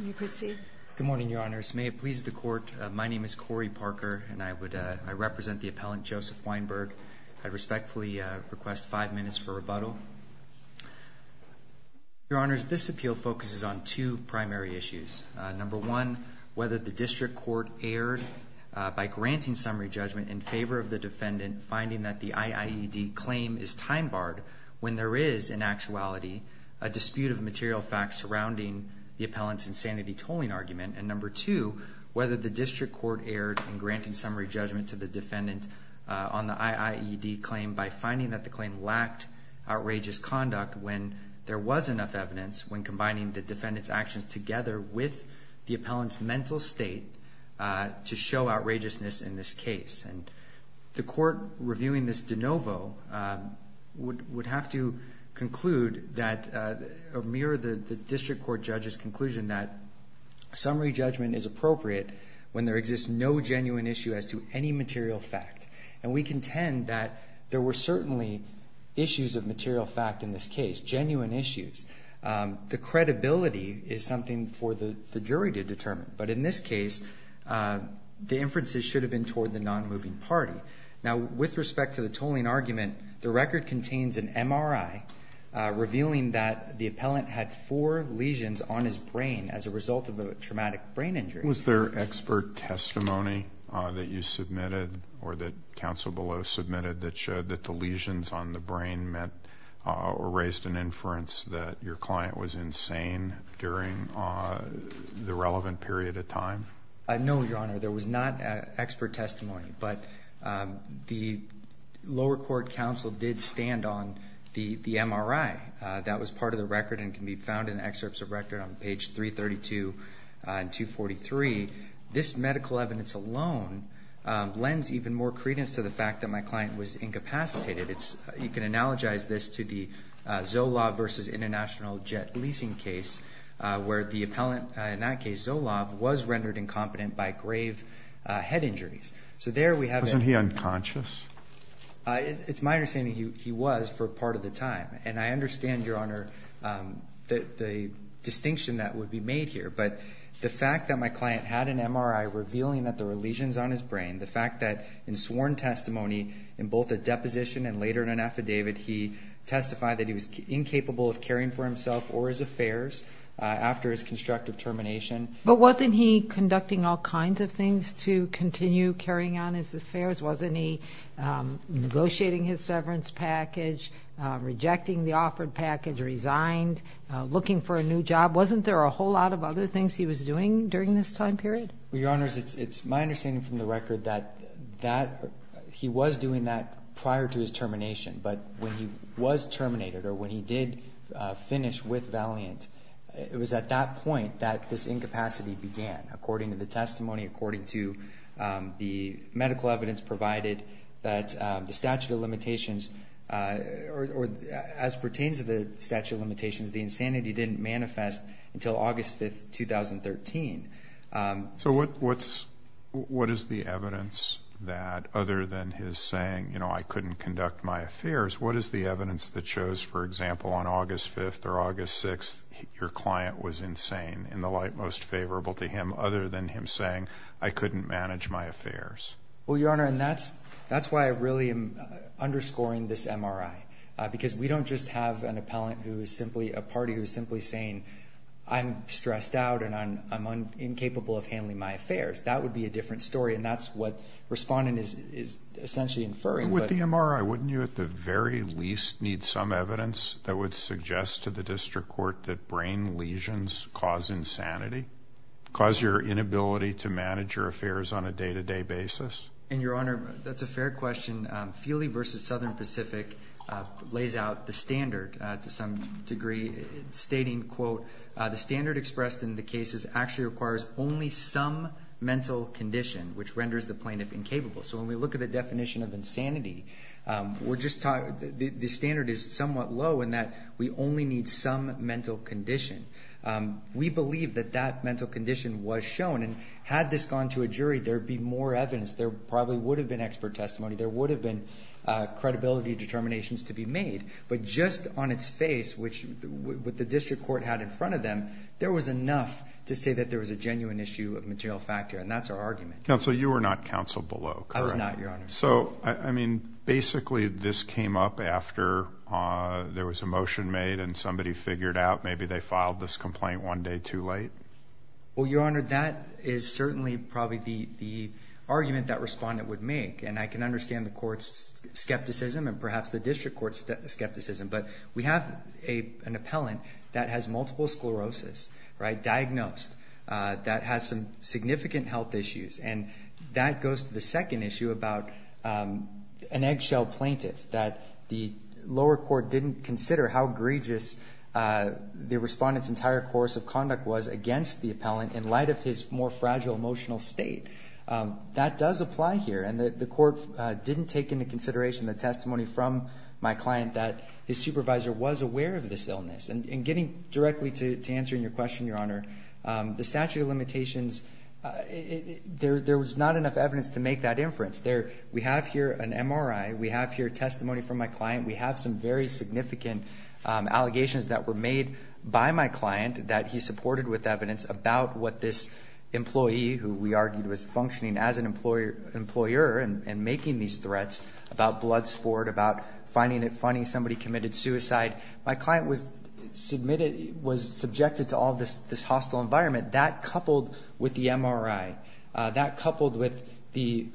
Good morning, Your Honors. May it please the Court, my name is Corey Parker, and I represent the appellant Joseph Weinberg. I respectfully request five minutes for rebuttal. Your Honors, this appeal focuses on two primary issues. Number one, whether the District Court erred by granting summary judgment in favor of the defendant, finding that the IIED claim is time barred when there is, in actuality, a dispute of material facts surrounding the appellant's insanity tolling argument. And number two, whether the District Court erred in granting summary judgment to the defendant on the IIED claim by finding that the claim lacked outrageous conduct when there was enough evidence when combining the defendant's actions together with the appellant's mental state to show outrageousness in this case. And the Court reviewing this de novo would have to conclude that, or mirror the District Court judge's conclusion, that summary judgment is appropriate when there exists no genuine issue as to any material fact. And we contend that there were certainly issues of material fact in this case, genuine issues. The credibility is something for the jury to determine. But in this case, the inferences should have been toward the non-moving party. Now, with respect to the tolling argument, the record contains an MRI revealing that the appellant had four lesions on his brain as a result of a traumatic brain injury. Was there expert testimony that you submitted or that counsel below submitted that showed that the lesions on the brain meant or raised an inference that your client was insane during the relevant period of time? No, Your Honor. There was not expert testimony. But the lower court counsel did stand on the MRI. That was part of the record and can be found in the excerpts of record on page 332 and 243. This medical evidence alone lends even more credence to the fact that my client was incapacitated. You can analogize this to the Zolov v. International Jet Leasing case, where the appellant in that case, Zolov, was rendered incompetent by grave head injuries. So there we have it. Wasn't he unconscious? It's my understanding he was for part of the time. And I understand, Your Honor, the distinction that would be made here. But the fact that my client had an MRI revealing that there were lesions on his brain, the fact that in sworn testimony in both a deposition and later in an affidavit, he testified that he was incapable of caring for himself or his affairs after his constructive termination. But wasn't he conducting all kinds of things to continue carrying on his affairs? Wasn't he negotiating his severance package, rejecting the offered package, resigned, looking for a new job? Wasn't there a whole lot of other things he was doing during this time period? Well, Your Honors, it's my understanding from the record that he was doing that prior to his termination. But when he was terminated or when he did finish with Valiant, it was at that point that this incapacity began. According to the testimony, according to the medical evidence provided that the statute of limitations or as pertains to the statute of limitations, the insanity didn't manifest until August 5th, 2013. So what is the evidence that, other than his saying, you know, I couldn't conduct my affairs, what is the evidence that shows, for example, on August 5th or August 6th, that your client was insane in the light most favorable to him other than him saying, I couldn't manage my affairs? Well, Your Honor, and that's why I really am underscoring this MRI, because we don't just have an appellant who is simply a party who is simply saying, I'm stressed out and I'm incapable of handling my affairs. That would be a different story, and that's what Respondent is essentially inferring. With the MRI, wouldn't you at the very least need some evidence that would suggest to the district court that brain lesions cause insanity, cause your inability to manage your affairs on a day-to-day basis? And, Your Honor, that's a fair question. Feely v. Southern Pacific lays out the standard to some degree, stating, quote, the standard expressed in the case actually requires only some mental condition, which renders the plaintiff incapable. So when we look at the definition of insanity, the standard is somewhat low in that we only need some mental condition. We believe that that mental condition was shown, and had this gone to a jury, there would be more evidence. There probably would have been expert testimony. There would have been credibility determinations to be made. But just on its face, which the district court had in front of them, there was enough to say that there was a genuine issue of material factor, and that's our argument. Counsel, you were not counsel below, correct? I was not, Your Honor. So, I mean, basically this came up after there was a motion made, and somebody figured out maybe they filed this complaint one day too late? Well, Your Honor, that is certainly probably the argument that respondent would make, and I can understand the court's skepticism and perhaps the district court's skepticism, but we have an appellant that has multiple sclerosis, right, diagnosed, that has some significant health issues, and that goes to the second issue about an eggshell plaintiff, that the lower court didn't consider how egregious the respondent's entire course of conduct was against the appellant in light of his more fragile emotional state. That does apply here, and the court didn't take into consideration the testimony from my client that his supervisor was aware of this illness. And getting directly to answering your question, Your Honor, the statute of limitations, there was not enough evidence to make that inference. We have here an MRI. We have here testimony from my client. We have some very significant allegations that were made by my client that he supported with evidence about what this employee, who we argued was functioning as an employer and making these threats about blood sport, about finding it funny somebody committed suicide. My client was subjected to all this hostile environment. That coupled with the MRI, that coupled with the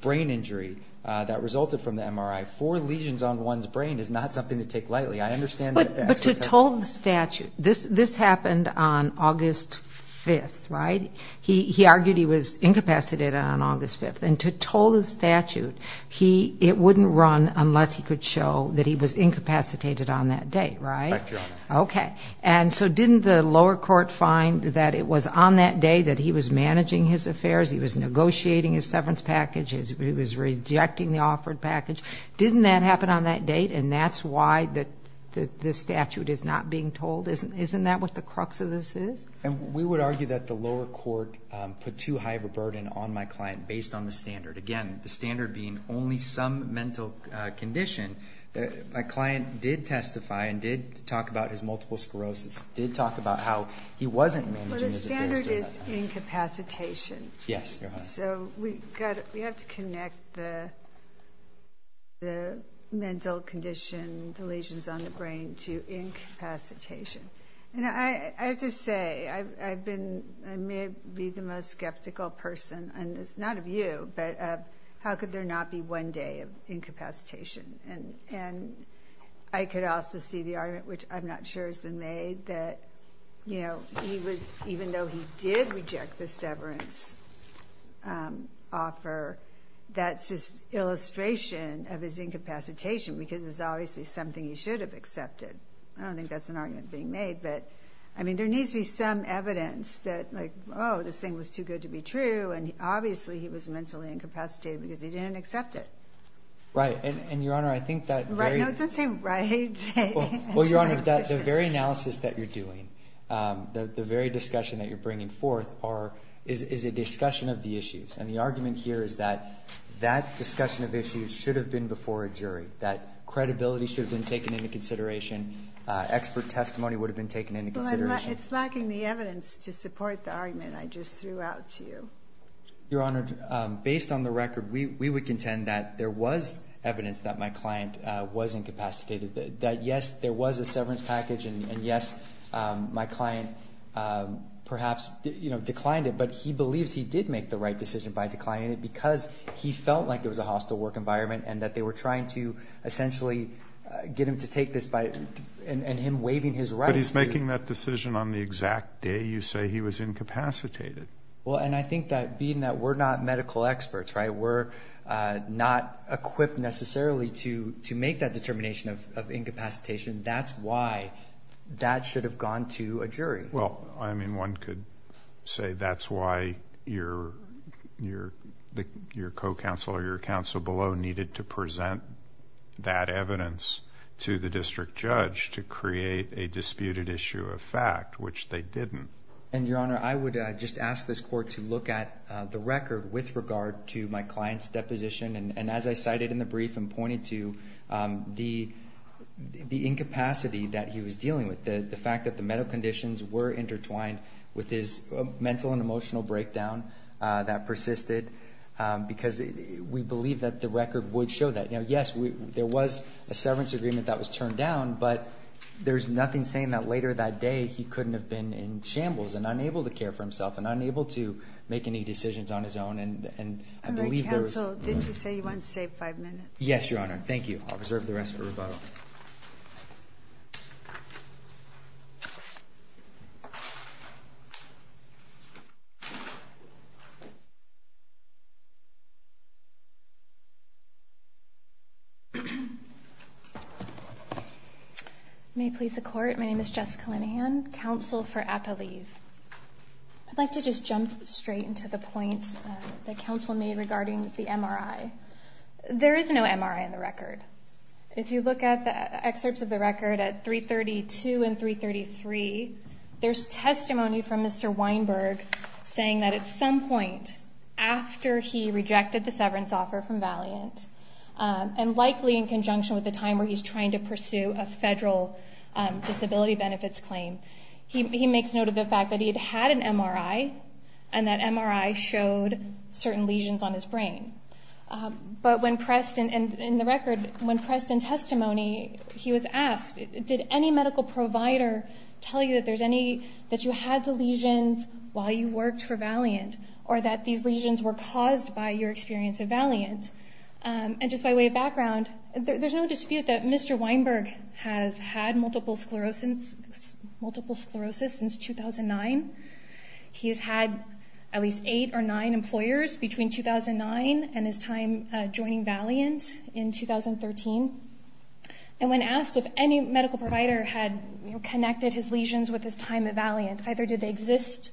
brain injury that resulted from the MRI, four lesions on one's brain is not something to take lightly. I understand that. But to toll the statute, this happened on August 5th, right? He argued he was incapacitated on August 5th. And to toll the statute, it wouldn't run unless he could show that he was incapacitated on that date, right? Right, Your Honor. Okay. And so didn't the lower court find that it was on that day that he was managing his affairs, he was negotiating his severance package, he was rejecting the offered package? Didn't that happen on that date, and that's why the statute is not being tolled? Isn't that what the crux of this is? We would argue that the lower court put too high of a burden on my client based on the standard. Again, the standard being only some mental condition. My client did testify and did talk about his multiple sclerosis, did talk about how he wasn't managing his affairs during that time. Well, the standard is incapacitation. Yes, Your Honor. So we have to connect the mental condition, the lesions on the brain, to incapacitation. I have to say, I may be the most skeptical person, and it's not of you, but how could there not be one day of incapacitation? And I could also see the argument, which I'm not sure has been made, that even though he did reject the severance offer, that's just illustration of his incapacitation because it was obviously something he should have accepted. I don't think that's an argument being made. But, I mean, there needs to be some evidence that, like, oh, this thing was too good to be true, and obviously he was mentally incapacitated because he didn't accept it. Right. And, Your Honor, I think that very – No, don't say right. Well, Your Honor, the very analysis that you're doing, the very discussion that you're bringing forth is a discussion of the issues. And the argument here is that that discussion of issues should have been before a jury, that credibility should have been taken into consideration, expert testimony would have been taken into consideration. Well, it's lacking the evidence to support the argument I just threw out to you. Your Honor, based on the record, we would contend that there was evidence that my client was incapacitated, that, yes, there was a severance package, and, yes, my client perhaps declined it, but he believes he did make the right decision by declining it because he felt like it was a hostile work environment and that they were trying to essentially get him to take this by – and him waiving his rights to – But he's making that decision on the exact day you say he was incapacitated. Well, and I think that being that we're not medical experts, right, we're not equipped necessarily to make that determination of incapacitation, that's why that should have gone to a jury. Well, I mean, one could say that's why your co-counsel or your counsel below needed to present that evidence to the district judge to create a disputed issue of fact, which they didn't. And, Your Honor, I would just ask this court to look at the record with regard to my client's deposition, and as I cited in the brief and pointed to, the incapacity that he was dealing with, the fact that the medical conditions were intertwined with his mental and emotional breakdown that persisted, because we believe that the record would show that. Now, yes, there was a severance agreement that was turned down, but there's nothing saying that later that day he couldn't have been in shambles and unable to care for himself and unable to make any decisions on his own, and I believe there was – Counsel, didn't you say you wanted to save five minutes? Yes, Your Honor. Thank you. I'll reserve the rest for rebuttal. Thank you. May it please the Court, my name is Jessica Linehan, counsel for Appalieve. I'd like to just jump straight into the point that counsel made regarding the MRI. If you look at the excerpts of the record at 332 and 333, there's testimony from Mr. Weinberg saying that at some point after he rejected the severance offer from Valiant, and likely in conjunction with the time where he's trying to pursue a federal disability benefits claim, he makes note of the fact that he had had an MRI and that MRI showed certain lesions on his brain. But when pressed in the record, when pressed in testimony, he was asked, did any medical provider tell you that there's any – that you had the lesions while you worked for Valiant or that these lesions were caused by your experience at Valiant? And just by way of background, there's no dispute that Mr. Weinberg has had multiple sclerosis since 2009. He's had at least eight or nine employers between 2009 and his time joining Valiant in 2013. And when asked if any medical provider had connected his lesions with his time at Valiant, either did they exist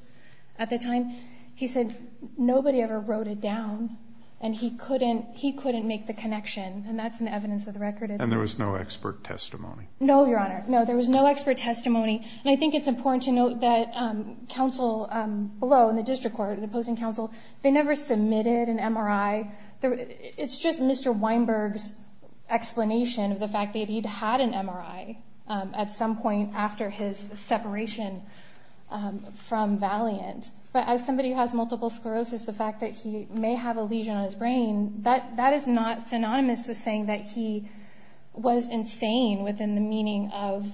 at the time, he said nobody ever wrote it down and he couldn't make the connection. And that's in the evidence of the record. And there was no expert testimony? No, Your Honor. No, there was no expert testimony. And I think it's important to note that counsel below in the district court, the opposing counsel, they never submitted an MRI. It's just Mr. Weinberg's explanation of the fact that he'd had an MRI at some point after his separation from Valiant. But as somebody who has multiple sclerosis, the fact that he may have a lesion on his brain, that is not synonymous with saying that he was insane within the meaning of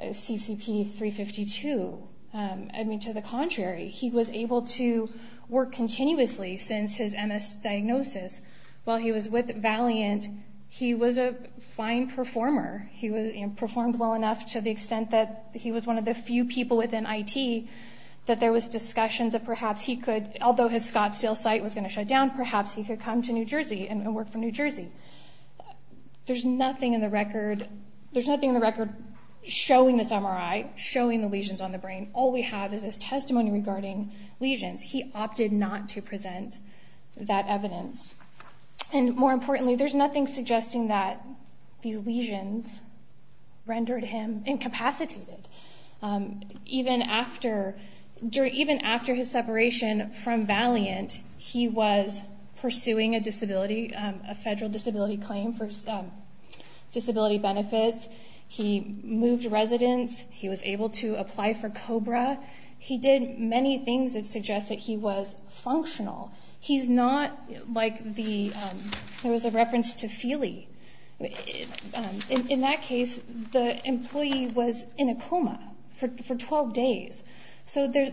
CCP 352. I mean, to the contrary. He was able to work continuously since his MS diagnosis. While he was with Valiant, he was a fine performer. He performed well enough to the extent that he was one of the few people within IT that there was discussions that perhaps he could, although his Scottsdale site was going to shut down, perhaps he could come to New Jersey and work for New Jersey. There's nothing in the record showing this MRI, showing the lesions on the brain. All we have is his testimony regarding lesions. He opted not to present that evidence. And more importantly, there's nothing suggesting that these lesions rendered him incapacitated. Even after his separation from Valiant, he was pursuing a disability, a federal disability claim for disability benefits. He moved residence. He was able to apply for COBRA. He did many things that suggest that he was functional. He's not like the, there was a reference to Feely. In that case, the employee was in a coma for 12 days. So there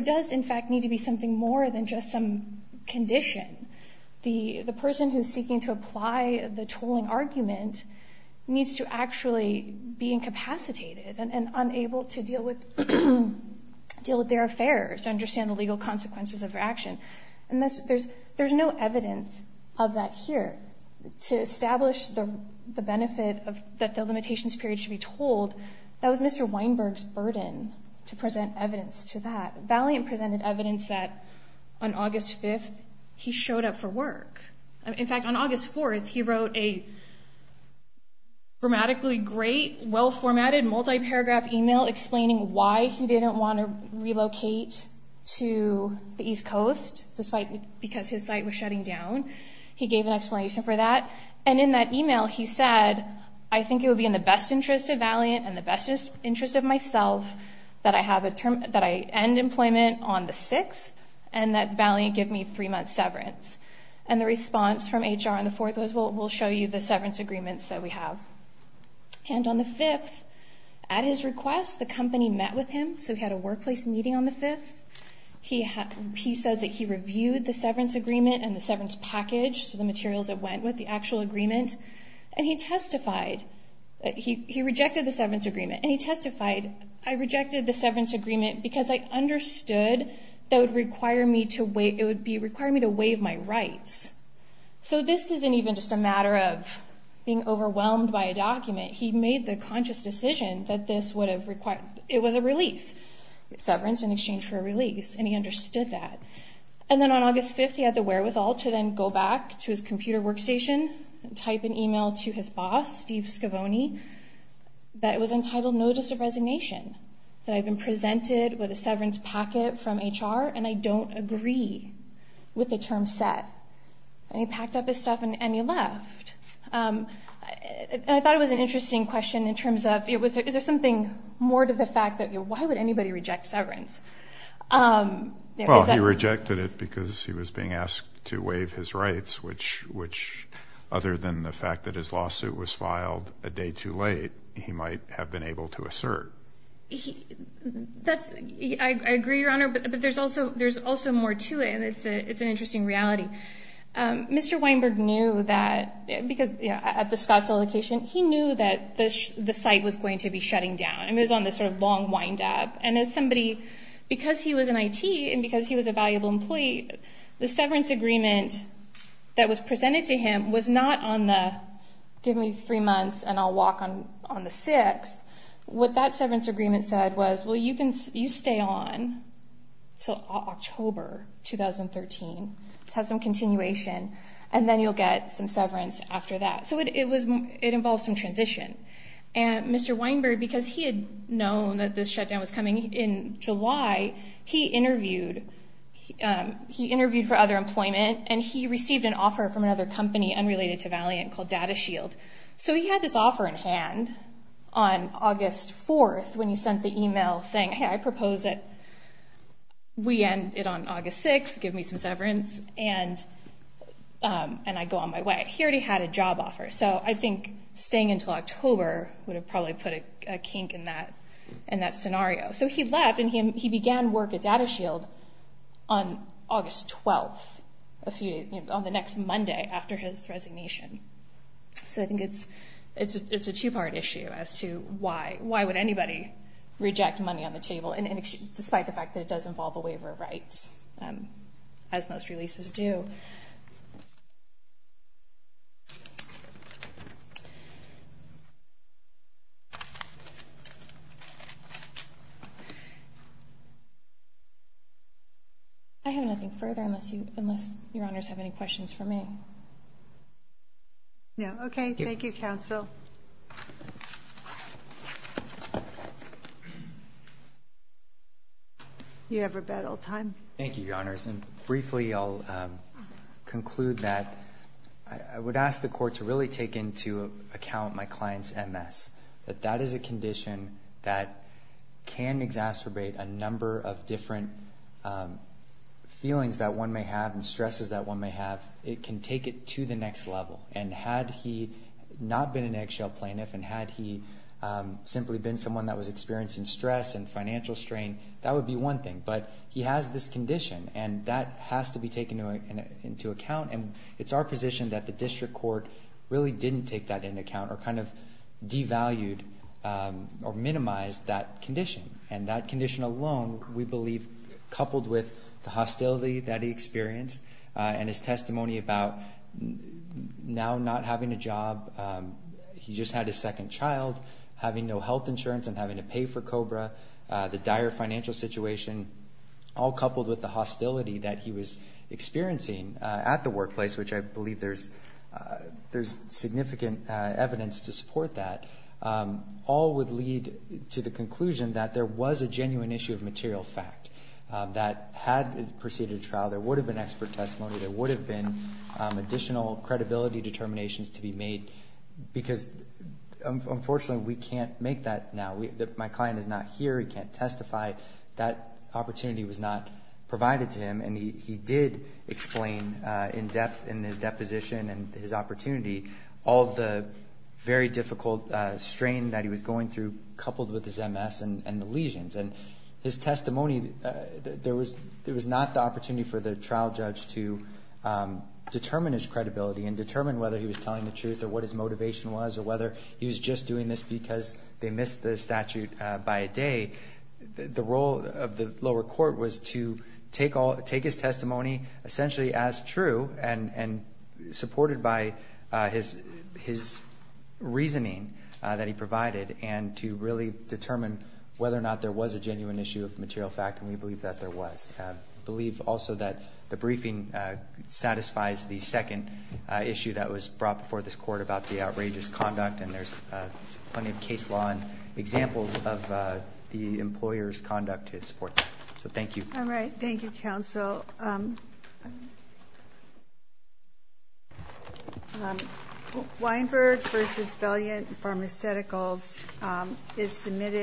does, in fact, need to be something more than just some condition. The person who's seeking to apply the tolling argument needs to actually be incapacitated and unable to deal with their affairs, understand the legal consequences of their action. And there's no evidence of that here. That was Mr. Weinberg's burden to present evidence to that. Valiant presented evidence that on August 5th, he showed up for work. In fact, on August 4th, he wrote a grammatically great, well-formatted multi-paragraph email explaining why he didn't want to relocate to the East Coast because his site was shutting down. He gave an explanation for that. And in that email, he said, I think it would be in the best interest of Valiant and the best interest of myself that I have a term, that I end employment on the 6th and that Valiant give me three months severance. And the response from HR on the 4th was, well, we'll show you the severance agreements that we have. And on the 5th, at his request, the company met with him. So he had a workplace meeting on the 5th. He says that he reviewed the severance agreement and the severance package, the materials that went with the actual agreement. And he testified that he rejected the severance agreement. And he testified, I rejected the severance agreement because I understood that it would require me to waive my rights. So this isn't even just a matter of being overwhelmed by a document. He made the conscious decision that this would have required – it was a release, severance in exchange for a release. And he understood that. And then on August 5th, he had the wherewithal to then go back to his computer workstation and type an email to his boss, Steve Scavone, that it was entitled Notice of Resignation, that I've been presented with a severance packet from HR and I don't agree with the term set. And he packed up his stuff and he left. And I thought it was an interesting question in terms of, is there something more to the fact that why would anybody reject severance? Well, he rejected it because he was being asked to waive his rights, which other than the fact that his lawsuit was filed a day too late, he might have been able to assert. I agree, Your Honor, but there's also more to it. And it's an interesting reality. Mr. Weinberg knew that – because at the Scottsville location, he knew that the site was going to be shutting down. It was on this sort of long windup. And as somebody – because he was in IT and because he was a valuable employee, the severance agreement that was presented to him was not on the give me three months and I'll walk on the sixth. What that severance agreement said was, well, you stay on until October 2013 to have some continuation, and then you'll get some severance after that. So it involved some transition. And Mr. Weinberg, because he had known that this shutdown was coming in July, he interviewed for other employment, and he received an offer from another company unrelated to Valiant called Data Shield. So he had this offer in hand on August 4th when he sent the email saying, hey, I propose that we end it on August 6th, give me some severance, and I go on my way. He already had a job offer. So I think staying until October would have probably put a kink in that scenario. So he left, and he began work at Data Shield on August 12th, on the next Monday after his resignation. So I think it's a two-part issue as to why would anybody reject money on the table, despite the fact that it does involve a waiver of rights, as most releases do. I have nothing further unless Your Honors have any questions for me. No, okay. Thank you, counsel. You have rebuttal time. Thank you, Your Honors. And briefly I'll conclude that I would ask the court to really take into account my client's MS, that that is a condition that can exacerbate a number of different feelings that one may have and stresses that one may have. It can take it to the next level. And had he not been an eggshell plaintiff, and had he simply been someone that was experiencing stress and financial strain, that would be one thing. But he has this condition, and that has to be taken into account. And it's our position that the district court really didn't take that into account or kind of devalued or minimized that condition. And that condition alone, we believe, coupled with the hostility that he experienced and his testimony about now not having a job, he just had his second child, having no health insurance and having to pay for COBRA, the dire financial situation, all coupled with the hostility that he was experiencing at the workplace, which I believe there's significant evidence to support that, all would lead to the conclusion that there was a genuine issue of material fact, that had it proceeded to trial, there would have been expert testimony, there would have been additional credibility determinations to be made, because unfortunately we can't make that now. My client is not here. He can't testify. That opportunity was not provided to him, and he did explain in depth in his deposition and his opportunity all the very difficult strain that he was going through coupled with his MS and the lesions. And his testimony, there was not the opportunity for the trial judge to determine his credibility and determine whether he was telling the truth or what his motivation was or whether he was just doing this because they missed the statute by a day. The role of the lower court was to take his testimony essentially as true and supported by his reasoning that he provided and to really determine whether or not there was a genuine issue of material fact, and we believe that there was. We believe also that the briefing satisfies the second issue that was brought before this court about the outrageous conduct, and there's plenty of case law and examples of the employer's conduct to support that. So thank you. All right. Thank you, counsel. So Weinberg v. Valiant Pharmaceuticals is submitted.